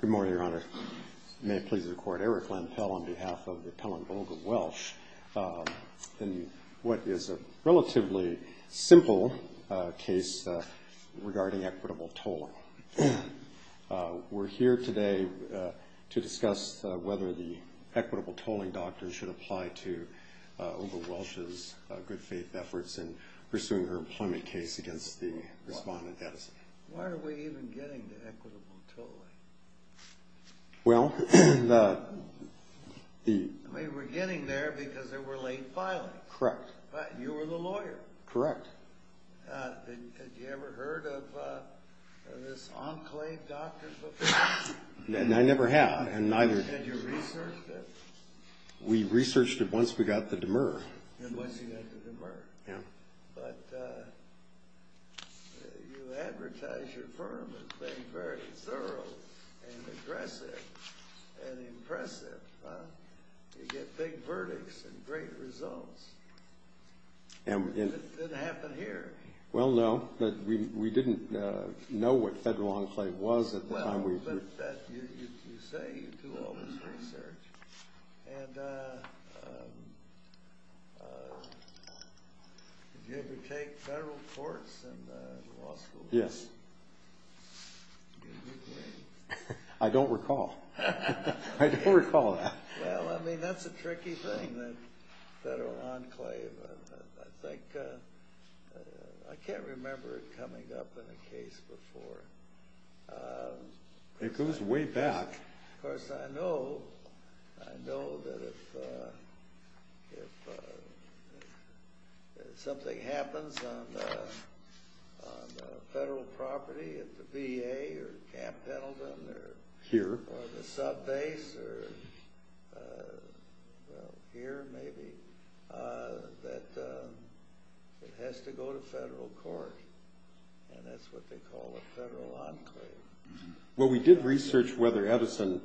Good morning, Your Honor. May it please the Court, Eric Lempel on behalf of the Pellengold of Welch in what is a relatively simple case regarding equitable tolling. We're here today to discuss whether the equitable tolling doctor should apply to Olga Welch's good faith efforts in pursuing her employment case against the respondent Edison. Why are we even getting to equitable tolling? Well, the... We were getting there because there were late filings. Correct. You were the lawyer. Correct. Had you ever heard of this enclave doctor before? I never have, and neither... Had you researched it? We researched it once we got the demur. Once you got the demur. Yeah. But you advertise your firm as being very thorough and aggressive and impressive, huh? You get big verdicts and great results. It didn't happen here. Well, no, but we didn't know what federal enclave was at the time we... You say you do all this research, and did you ever take federal courts in law school? Yes. Did you? I don't recall. I don't recall that. Well, I mean, that's a tricky thing, the federal enclave. I think... I can't remember it coming up in a case before. It goes way back. Of course, I know that if something happens on federal property at the VA or Camp Pendleton or... Here. Or the subbase or, well, here maybe, that it has to go to federal court, and that's what they call a federal enclave. Well, we did research whether Edison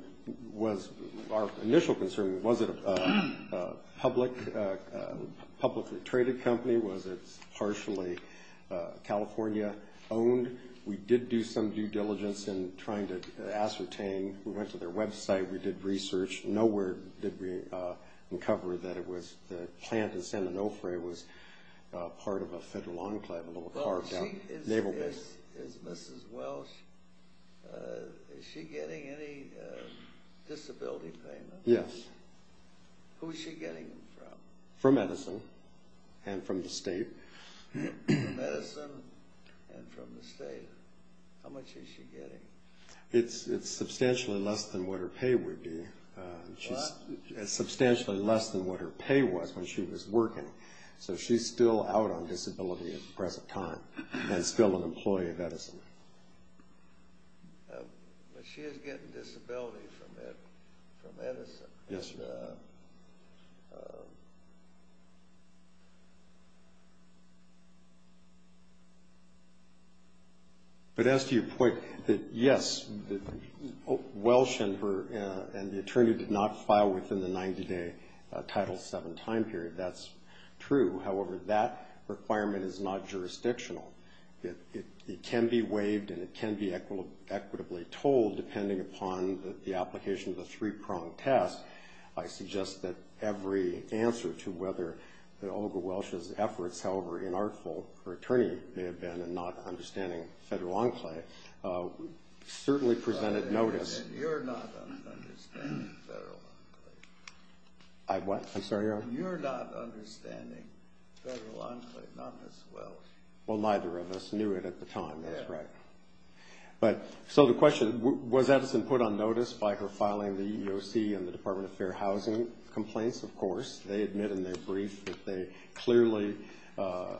was our initial concern. Was it a publicly traded company? Was it partially California-owned? We did do some due diligence in trying to ascertain. We went to their website. We did research. Nowhere did we uncover that the plant in San Onofre was part of a federal enclave, a little car down... Is Mrs. Welsh, is she getting any disability payment? Yes. Who is she getting them from? From Edison and from the state. From Edison and from the state. How much is she getting? It's substantially less than what her pay would be. What? Substantially less than what her pay was when she was working. So she's still out on disability at the present time and still an employee of Edison. But she is getting disability from Edison. Yes, sir. But as to your point, yes, Welsh and the attorney did not file within the 90-day Title VII time period. That's true. However, that requirement is not jurisdictional. It can be waived and it can be equitably told depending upon the application of the three-pronged test. I suggest that every answer to whether Olga Welsh's efforts, however inartful her attorney may have been in not understanding federal enclave, certainly presented notice. You're not understanding federal enclave. I'm sorry, Your Honor? You're not understanding federal enclave, not Mrs. Welsh. Well, neither of us knew it at the time. That's right. So the question, was Edison put on notice by her filing the EEOC and the Department of Fair Housing complaints? Of course. They admit in their brief that they clearly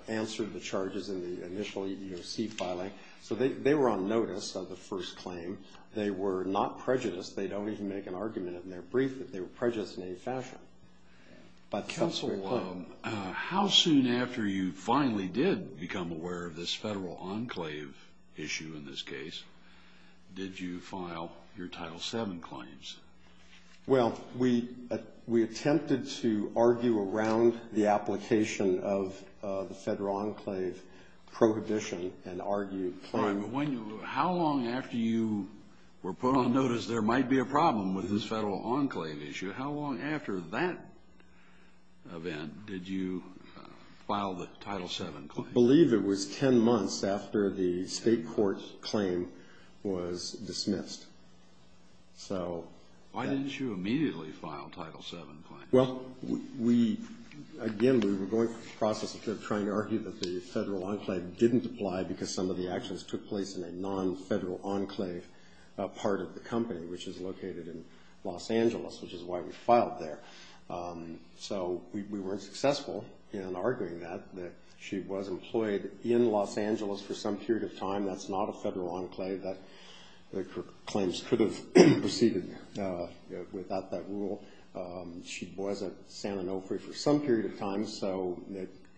answered the charges in the initial EEOC filing. So they were on notice of the first claim. They were not prejudiced. They don't even make an argument in their brief that they were prejudiced in any fashion. Counsel, how soon after you finally did become aware of this federal enclave issue in this case did you file your Title VII claims? Well, we attempted to argue around the application of the federal enclave prohibition and argue. How long after you were put on notice there might be a problem with this federal enclave issue? How long after that event did you file the Title VII claim? I believe it was 10 months after the state court claim was dismissed. Why didn't you immediately file a Title VII claim? Well, again, we were going through the process of trying to argue that the federal enclave didn't apply because some of the actions took place in a non-federal enclave part of the company, which is located in Los Angeles, which is why we filed there. So we weren't successful in arguing that. She was employed in Los Angeles for some period of time. That's not a federal enclave. The claims could have proceeded without that rule. She was at San Onofre for some period of time.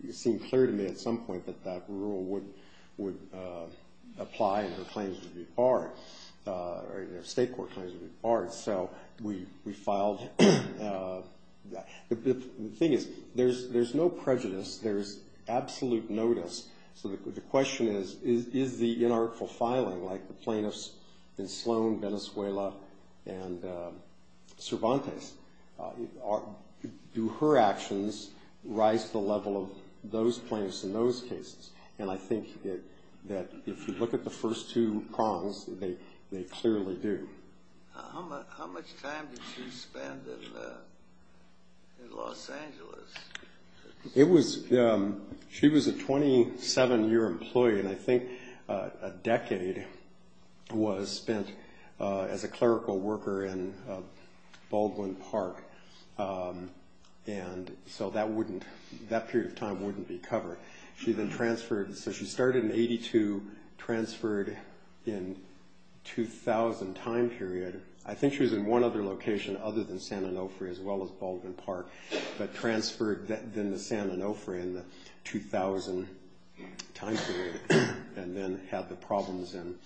It seemed clear to me at some point that that rule would apply and her claims would be barred, or her state court claims would be barred, so we filed that. The thing is, there's no prejudice. There's absolute notice. So the question is, is the inartful filing, like the plaintiffs in Sloan, Venezuela, and Cervantes, do her actions rise to the level of those plaintiffs in those cases? And I think that if you look at the first two prongs, they clearly do. How much time did she spend in Los Angeles? She was a 27-year employee, and I think a decade was spent as a clerical worker in Baldwin Park, and so that period of time wouldn't be covered. So she started in 82, transferred in 2000 time period. I think she was in one other location other than San Onofre as well as Baldwin Park, but transferred then to San Onofre in the 2000 time period, and then had the problems in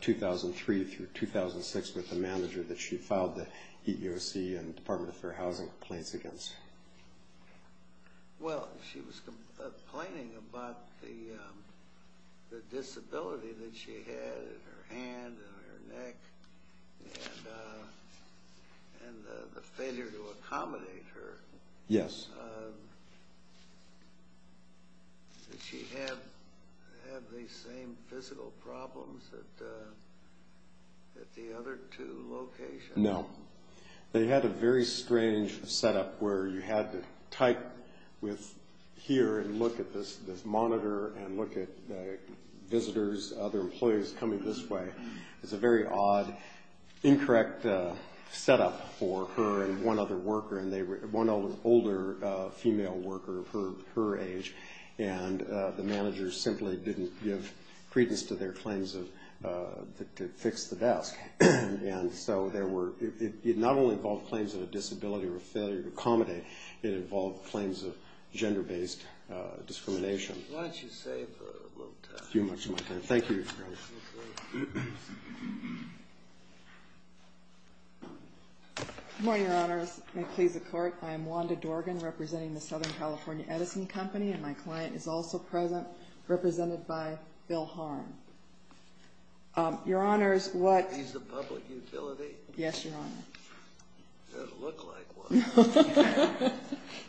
2003 through 2006 with the manager that she filed the EEOC and Department of Fair Housing complaints against. Well, she was complaining about the disability that she had in her hand and her neck and the failure to accommodate her. Yes. Did she have the same physical problems at the other two locations? No. They had a very strange setup where you had to type with here and look at this monitor and look at visitors, other employees coming this way. It's a very odd, incorrect setup for her and one other worker, one older female worker her age, and the manager simply didn't give credence to their claims to fix the desk. And so it not only involved claims of a disability or a failure to accommodate, it involved claims of gender-based discrimination. Why don't you save a little time. Thank you. Good morning, Your Honors. May it please the Court. I am Wanda Dorgan representing the Southern California Edison Company, and my client is also present, represented by Bill Harn. Your Honors, what... Is this a public utility? Yes, Your Honor. It doesn't look like one.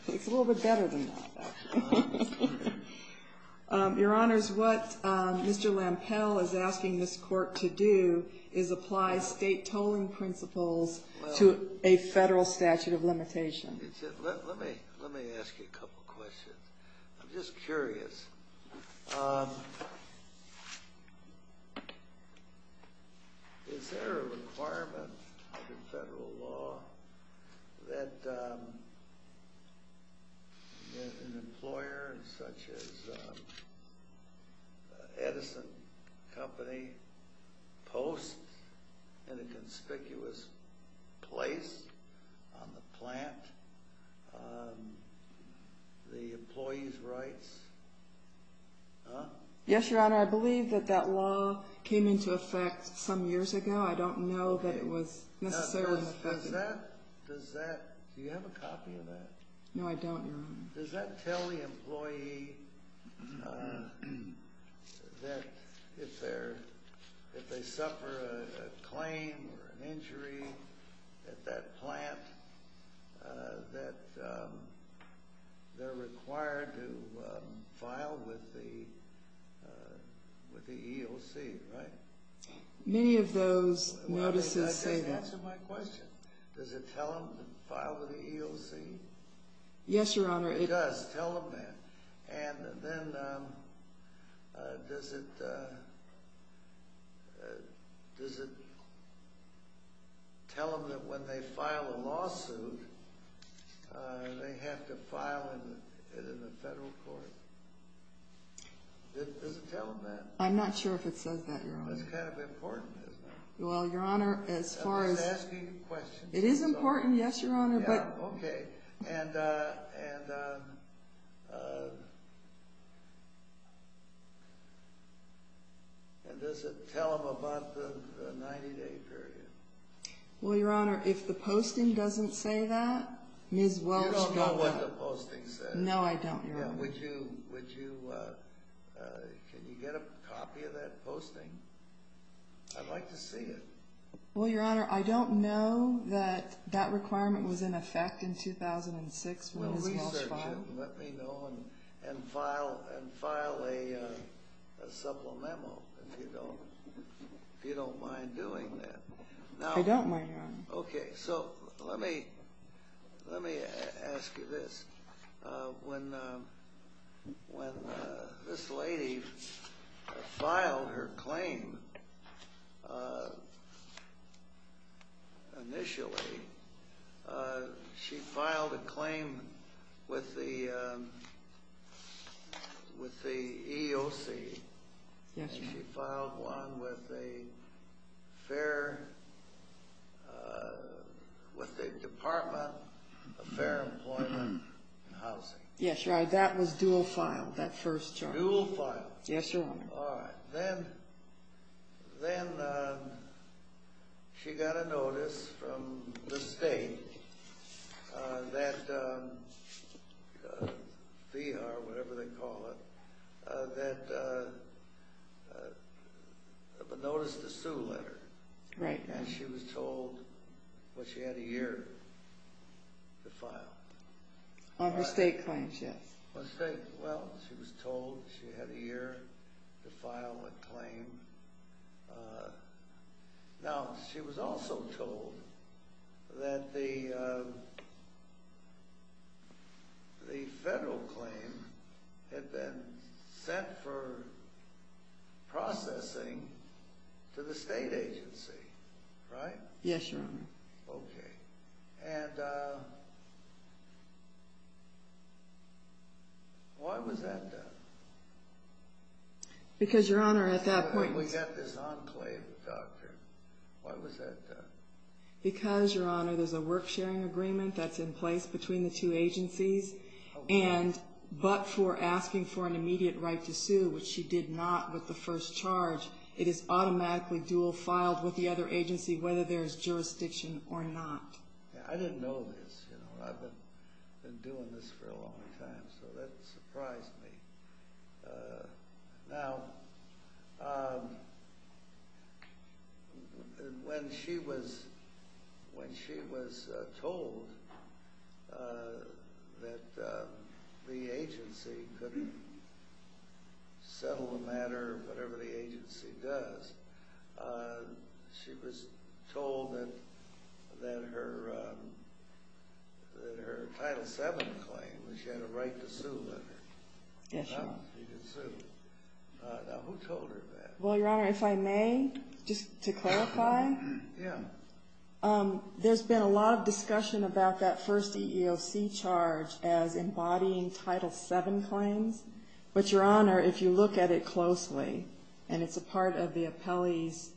It's a little bit better than that. Your Honors, what Mr. Lampel is asking this Court to do is apply state tolling principles to a federal statute of limitation. Let me ask you a couple questions. I'm just curious. Is there a requirement under federal law that an employer such as Edison Company posts in a conspicuous place on the plant the employee's rights? Yes, Your Honor. I believe that that law came into effect some years ago. I don't know that it was necessarily in effect. Does that... Do you have a copy of that? No, I don't, Your Honor. Does that tell the employee that if they suffer a claim or an injury at that plant that they're required to file with the EOC, right? Many of those notices say that. That doesn't answer my question. Does it tell them to file with the EOC? Yes, Your Honor. It does. Tell them that. And then does it tell them that when they file a lawsuit, they have to file it in the federal court? Does it tell them that? I'm not sure if it says that, Your Honor. That's kind of important, isn't it? Well, Your Honor, as far as... I'm just asking you questions. It is important, yes, Your Honor, but... Okay. And does it tell them about the 90-day period? Well, Your Honor, if the posting doesn't say that, Ms. Welch... You don't know what the posting says. No, I don't, Your Honor. Would you... Can you get a copy of that posting? I'd like to see it. Well, Your Honor, I don't know that that requirement was in effect in 2006 when Ms. Welch filed. Well, research it and let me know and file a supplemental if you don't mind doing that. Okay, so let me ask you this. When this lady filed her claim initially, she filed a claim with the EEOC. She filed one with the Department of Fair Employment and Housing. Yes, Your Honor, that was dual filed, that first charge. Dual filed? Yes, Your Honor. All right, then she got a notice from the state that, VHAR, whatever they call it, that... A notice to sue letter. Right. And she was told that she had a year to file. On her state claims, yes. Well, she was told she had a year to file a claim. Now, she was also told that the federal claim had been sent for processing to the state agency, right? Yes, Your Honor. Okay, and why was that done? Because, Your Honor, at that point... We got this on claim, doctor. Why was that done? Because, Your Honor, there's a work sharing agreement that's in place between the two agencies, and but for asking for an immediate right to sue, which she did not with the first charge, it is automatically dual filed with the other agency, whether there's jurisdiction or not. I didn't know this. I've been doing this for a long time, so that surprised me. Now, when she was told that the agency could settle the matter, whatever the agency does, she was told that her Title VII claim, that she had a right to sue letter. Yes, Your Honor. She did sue. Now, who told her that? Well, Your Honor, if I may, just to clarify. Yeah. There's been a lot of discussion about that first EEOC charge as embodying Title VII claims, but, Your Honor, if you look at it closely, and it's a part of the appellate's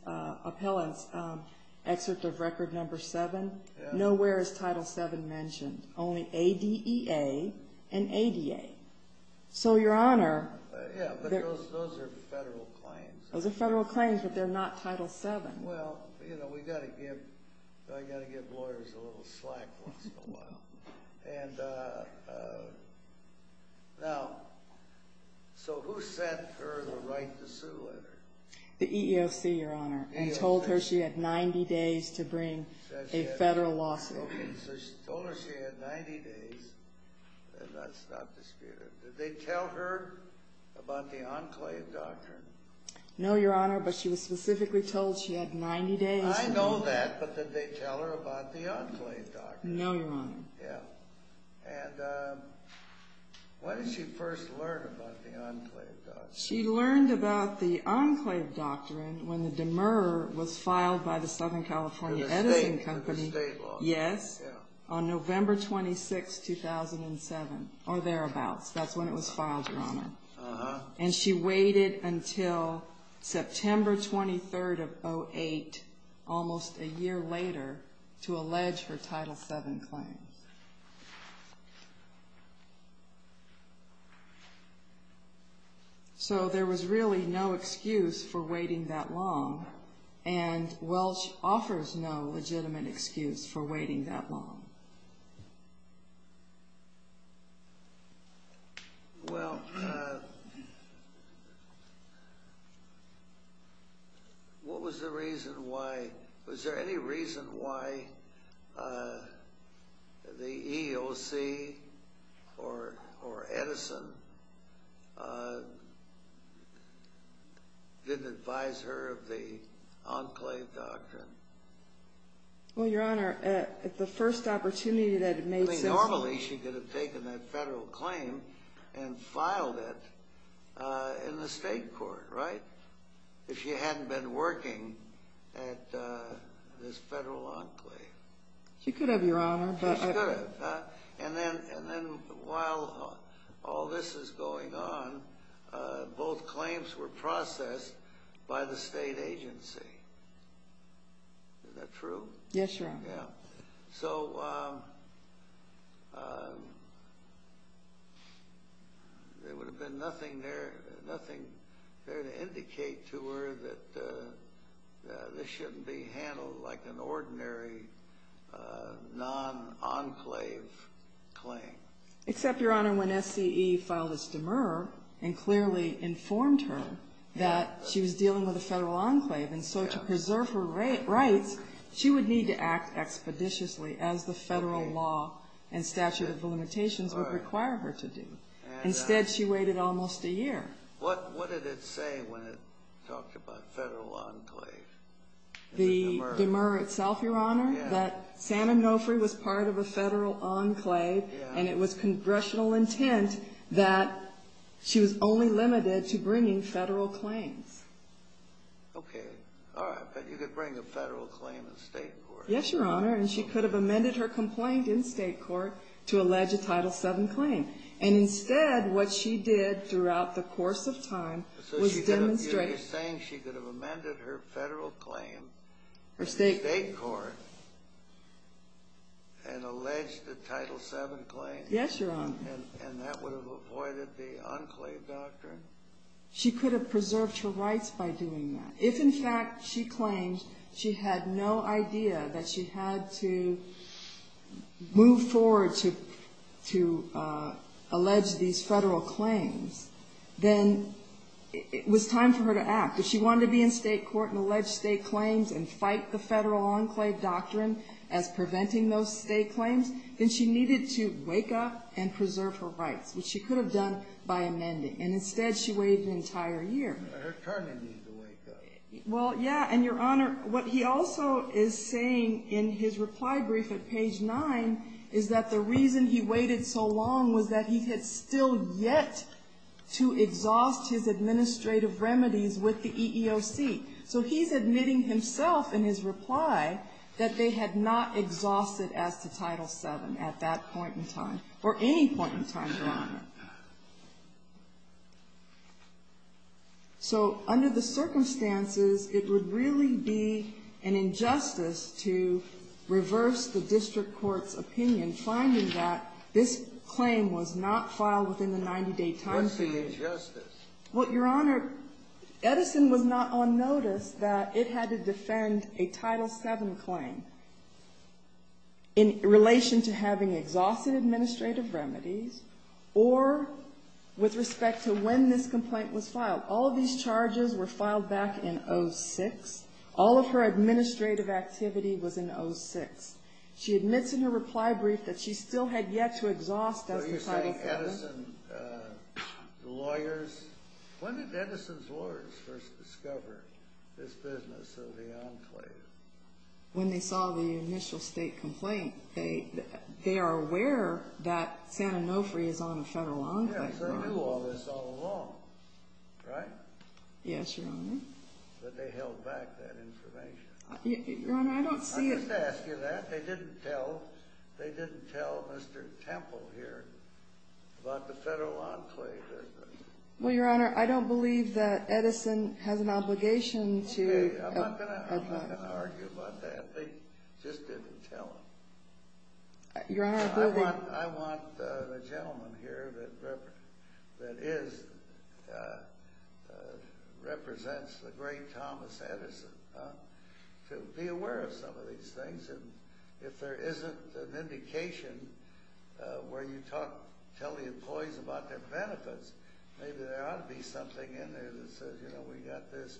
excerpt of Record No. 7, nowhere is Title VII mentioned, only ADEA and ADA. So, Your Honor. Yeah, but those are federal claims. Those are federal claims, but they're not Title VII. Well, you know, we've got to give lawyers a little slack once in a while. And now, so who sent her the right to sue letter? The EEOC, Your Honor. And told her she had 90 days to bring a federal lawsuit. Okay, so she told her she had 90 days, and that's not disputed. Did they tell her about the Enclave Doctrine? No, Your Honor, but she was specifically told she had 90 days. I know that, but did they tell her about the Enclave Doctrine? No, Your Honor. Yeah. And when did she first learn about the Enclave Doctrine? She learned about the Enclave Doctrine when the demurrer was filed by the Southern California Editing Company. For the state law. Yes, on November 26, 2007, or thereabouts. That's when it was filed, Your Honor. Uh-huh. And she waited until September 23, 2008, almost a year later, to allege her Title VII claims. So there was really no excuse for waiting that long, and Welch offers no legitimate excuse for waiting that long. Well, what was the reason why, was there any reason why the EOC or Edison didn't advise her of the Enclave Doctrine? Well, Your Honor, at the first opportunity that it made sense. I mean, normally she could have taken that federal claim and filed it in the state court, right? If she hadn't been working at this federal enclave. She could have, Your Honor. She could have. And then while all this is going on, both claims were processed by the state agency. Is that true? Yes, Your Honor. Yeah. So there would have been nothing there to indicate to her that this shouldn't be handled like an ordinary non-enclave claim. Except, Your Honor, when SCE filed this demurrer and clearly informed her that she was dealing with a federal enclave, and so to preserve her rights, she would need to act expeditiously as the federal law and statute of limitations would require her to do. Instead, she waited almost a year. What did it say when it talked about federal enclave? The demurrer itself, Your Honor, that Sam and Nofri was part of a federal enclave and it was congressional intent that she was only limited to bringing federal claims. Okay. All right. But you could bring a federal claim in state court. Yes, Your Honor. And she could have amended her complaint in state court to allege a Title VII claim. And instead, what she did throughout the course of time was demonstrate. So you're saying she could have amended her federal claim in state court and alleged a Title VII claim? Yes, Your Honor. And that would have avoided the enclave doctrine? She could have preserved her rights by doing that. If, in fact, she claimed she had no idea that she had to move forward to allege these federal claims, then it was time for her to act. If she wanted to be in state court and allege state claims and fight the federal enclave doctrine as preventing those state claims, then she needed to wake up and preserve her rights, which she could have done by amending. And instead, she waited an entire year. Her attorney needed to wake up. Well, yeah. And, Your Honor, what he also is saying in his reply brief at page 9 is that the reason he waited so long was that he had still yet to exhaust his administrative remedies with the EEOC. So he's admitting himself in his reply that they had not exhausted as to Title VII at that point in time, or any point in time, Your Honor. So under the circumstances, it would really be an injustice to reverse the district court's opinion, finding that this claim was not filed within the 90-day time period. What's the injustice? Well, Your Honor, Edison was not on notice that it had to defend a Title VII claim in relation to having exhausted administrative remedies, or with respect to when this complaint was filed. All of these charges were filed back in 06. All of her administrative activity was in 06. She admits in her reply brief that she still had yet to exhaust as to Title VII. When did Edison's lawyers first discover this business of the enclave? When they saw the initial state complaint, they are aware that Santa Nofri is on a federal enclave. Yes, they knew all this all along, right? Yes, Your Honor. But they held back that information. Your Honor, I don't see it. Let me just ask you that. They didn't tell Mr. Temple here about the federal enclave business. Well, Your Honor, I don't believe that Edison has an obligation to... Okay, I'm not going to argue about that. They just didn't tell him. Your Honor, I believe... I want the gentleman here that represents the great Thomas Edison to be aware of some of these things. And if there isn't an indication where you tell the employees about their benefits, maybe there ought to be something in there that says, you know, we got this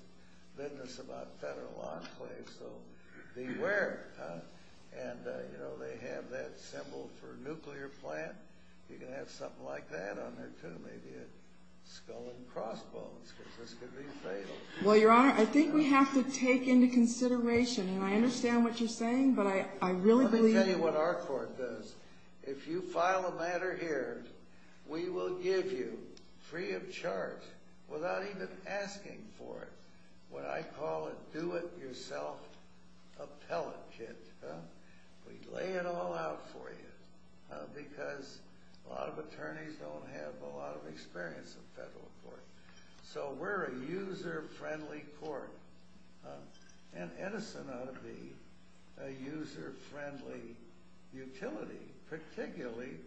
business about federal enclaves, so be aware. And, you know, they have that symbol for a nuclear plant. You can have something like that on there, too. Maybe a skull and crossbones, because this could be fatal. Well, Your Honor, I think we have to take into consideration, and I understand what you're saying, but I really believe... Let me tell you what our court does. If you file a matter here, we will give you, free of charge, without even asking for it, what I call a do-it-yourself appellate kit. We lay it all out for you, because a lot of attorneys don't have a lot of experience in federal court. So we're a user-friendly court, and Edison ought to be a user-friendly utility, particularly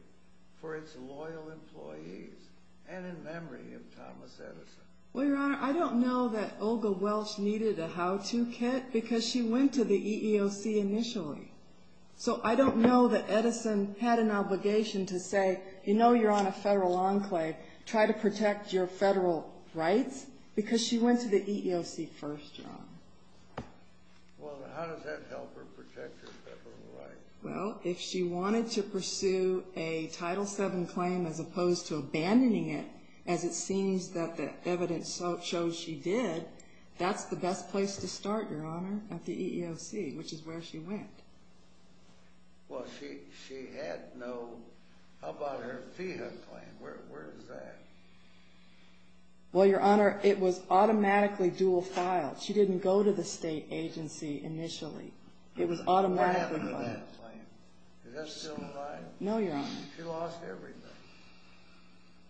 for its loyal employees and in memory of Thomas Edison. Well, Your Honor, I don't know that Olga Welch needed a how-to kit, because she went to the EEOC initially. So I don't know that Edison had an obligation to say, you know you're on a federal enclave, try to protect your federal rights, because she went to the EEOC first, Your Honor. Well, how does that help her protect her federal rights? Well, if she wanted to pursue a Title VII claim as opposed to abandoning it, as it seems that the evidence shows she did, that's the best place to start, Your Honor, at the EEOC, which is where she went. Well, she had no – how about her FEHA claim? Where is that? Well, Your Honor, it was automatically dual-filed. She didn't go to the state agency initially. It was automatically filed. What happened to that claim? Is that still alive? No, Your Honor. She lost everything.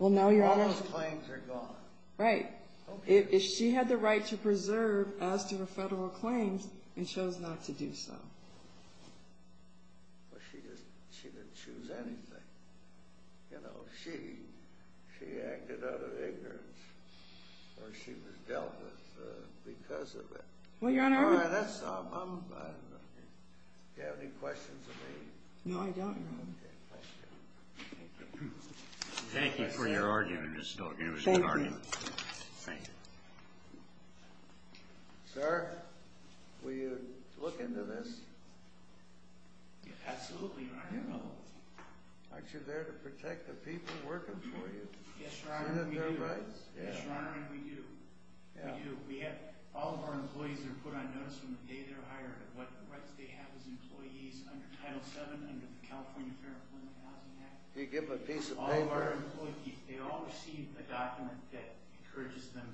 Well, now Your Honor – All those claims are gone. Right. If she had the right to preserve as to her federal claims, and chose not to do so. Well, she didn't choose anything. You know, she acted out of ignorance, or she was dealt with because of it. Well, Your Honor – All right, that's enough. Do you have any questions of me? No, I don't, Your Honor. Okay, thank you. Thank you for your argument, Mr. Stoker. Thank you. It was a good argument. Thank you. Sir, will you look into this? Absolutely, Your Honor. Aren't you there to protect the people working for you? Yes, Your Honor, we do. Isn't that their rights? Yes, Your Honor, and we do. We do. We have – all of our employees are put on notice from the day they're hired of what rights they have as employees under Title VII, under the California Fair Employment Housing Act. You give them a piece of paper – All of our employees, they all receive a document that encourages them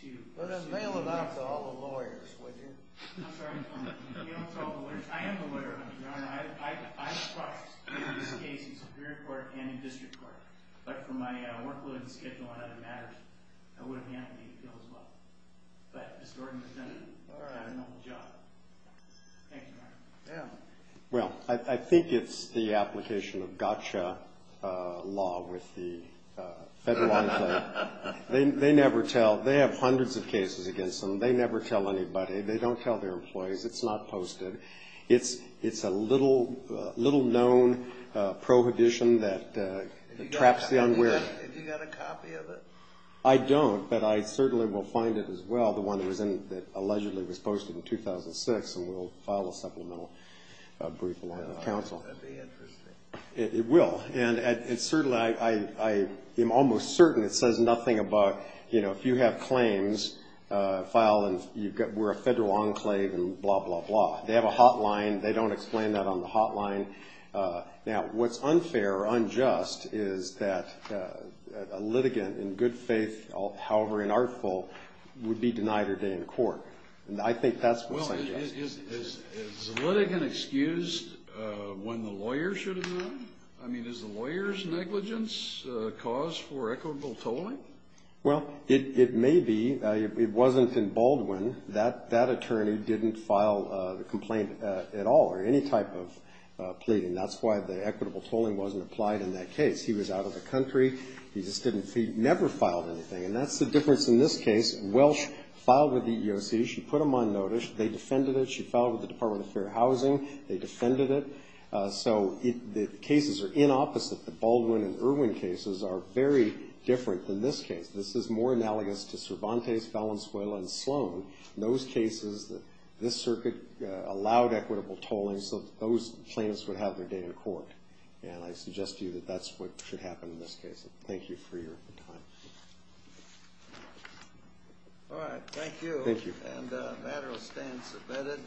to – Well, then mail it out to all the lawyers, would you? I'm sorry, Your Honor. Mail it to all the lawyers. I am the lawyer, Your Honor. I've processed this case in Superior Court and in District Court. But for my workload and schedule on other matters, I would have handled the appeal as well. But Ms. Gordon presented it. All right. I've got a noble job. Thank you, Your Honor. Yeah. Well, I think it's the application of gotcha law with the federal employees. They never tell. They have hundreds of cases against them. They never tell anybody. They don't tell their employees. It's not posted. It's a little-known prohibition that traps the unwary. Have you got a copy of it? I don't, but I certainly will find it as well, the one that allegedly was posted in 2006, and we'll file a supplemental brief along with counsel. That would be interesting. It will. And certainly, I am almost certain it says nothing about, you know, if you have claims, file and we're a federal enclave and blah, blah, blah. They have a hotline. They don't explain that on the hotline. Now, what's unfair or unjust is that a litigant in good faith, however inartful, would be denied her day in court. And I think that's what's unjust. Well, is the litigant excused when the lawyer should have been? I mean, is the lawyer's negligence a cause for equitable tolling? Well, it may be. It wasn't in Baldwin. That attorney didn't file a complaint at all or any type of plea, and that's why the equitable tolling wasn't applied in that case. He was out of the country. He just didn't see. He never filed anything, and that's the difference in this case. Welch filed with the EEOC. She put him on notice. They defended it. She filed with the Department of Fair Housing. They defended it. So the cases are inopposite. The Baldwin and Irwin cases are very different than this case. This is more analogous to Cervantes, Valenzuela, and Sloan. In those cases, this circuit allowed equitable tolling so that those plaintiffs would have their day in court. And I suggest to you that that's what should happen in this case. Thank you for your time. All right, thank you. Thank you. And the matter will stand submitted.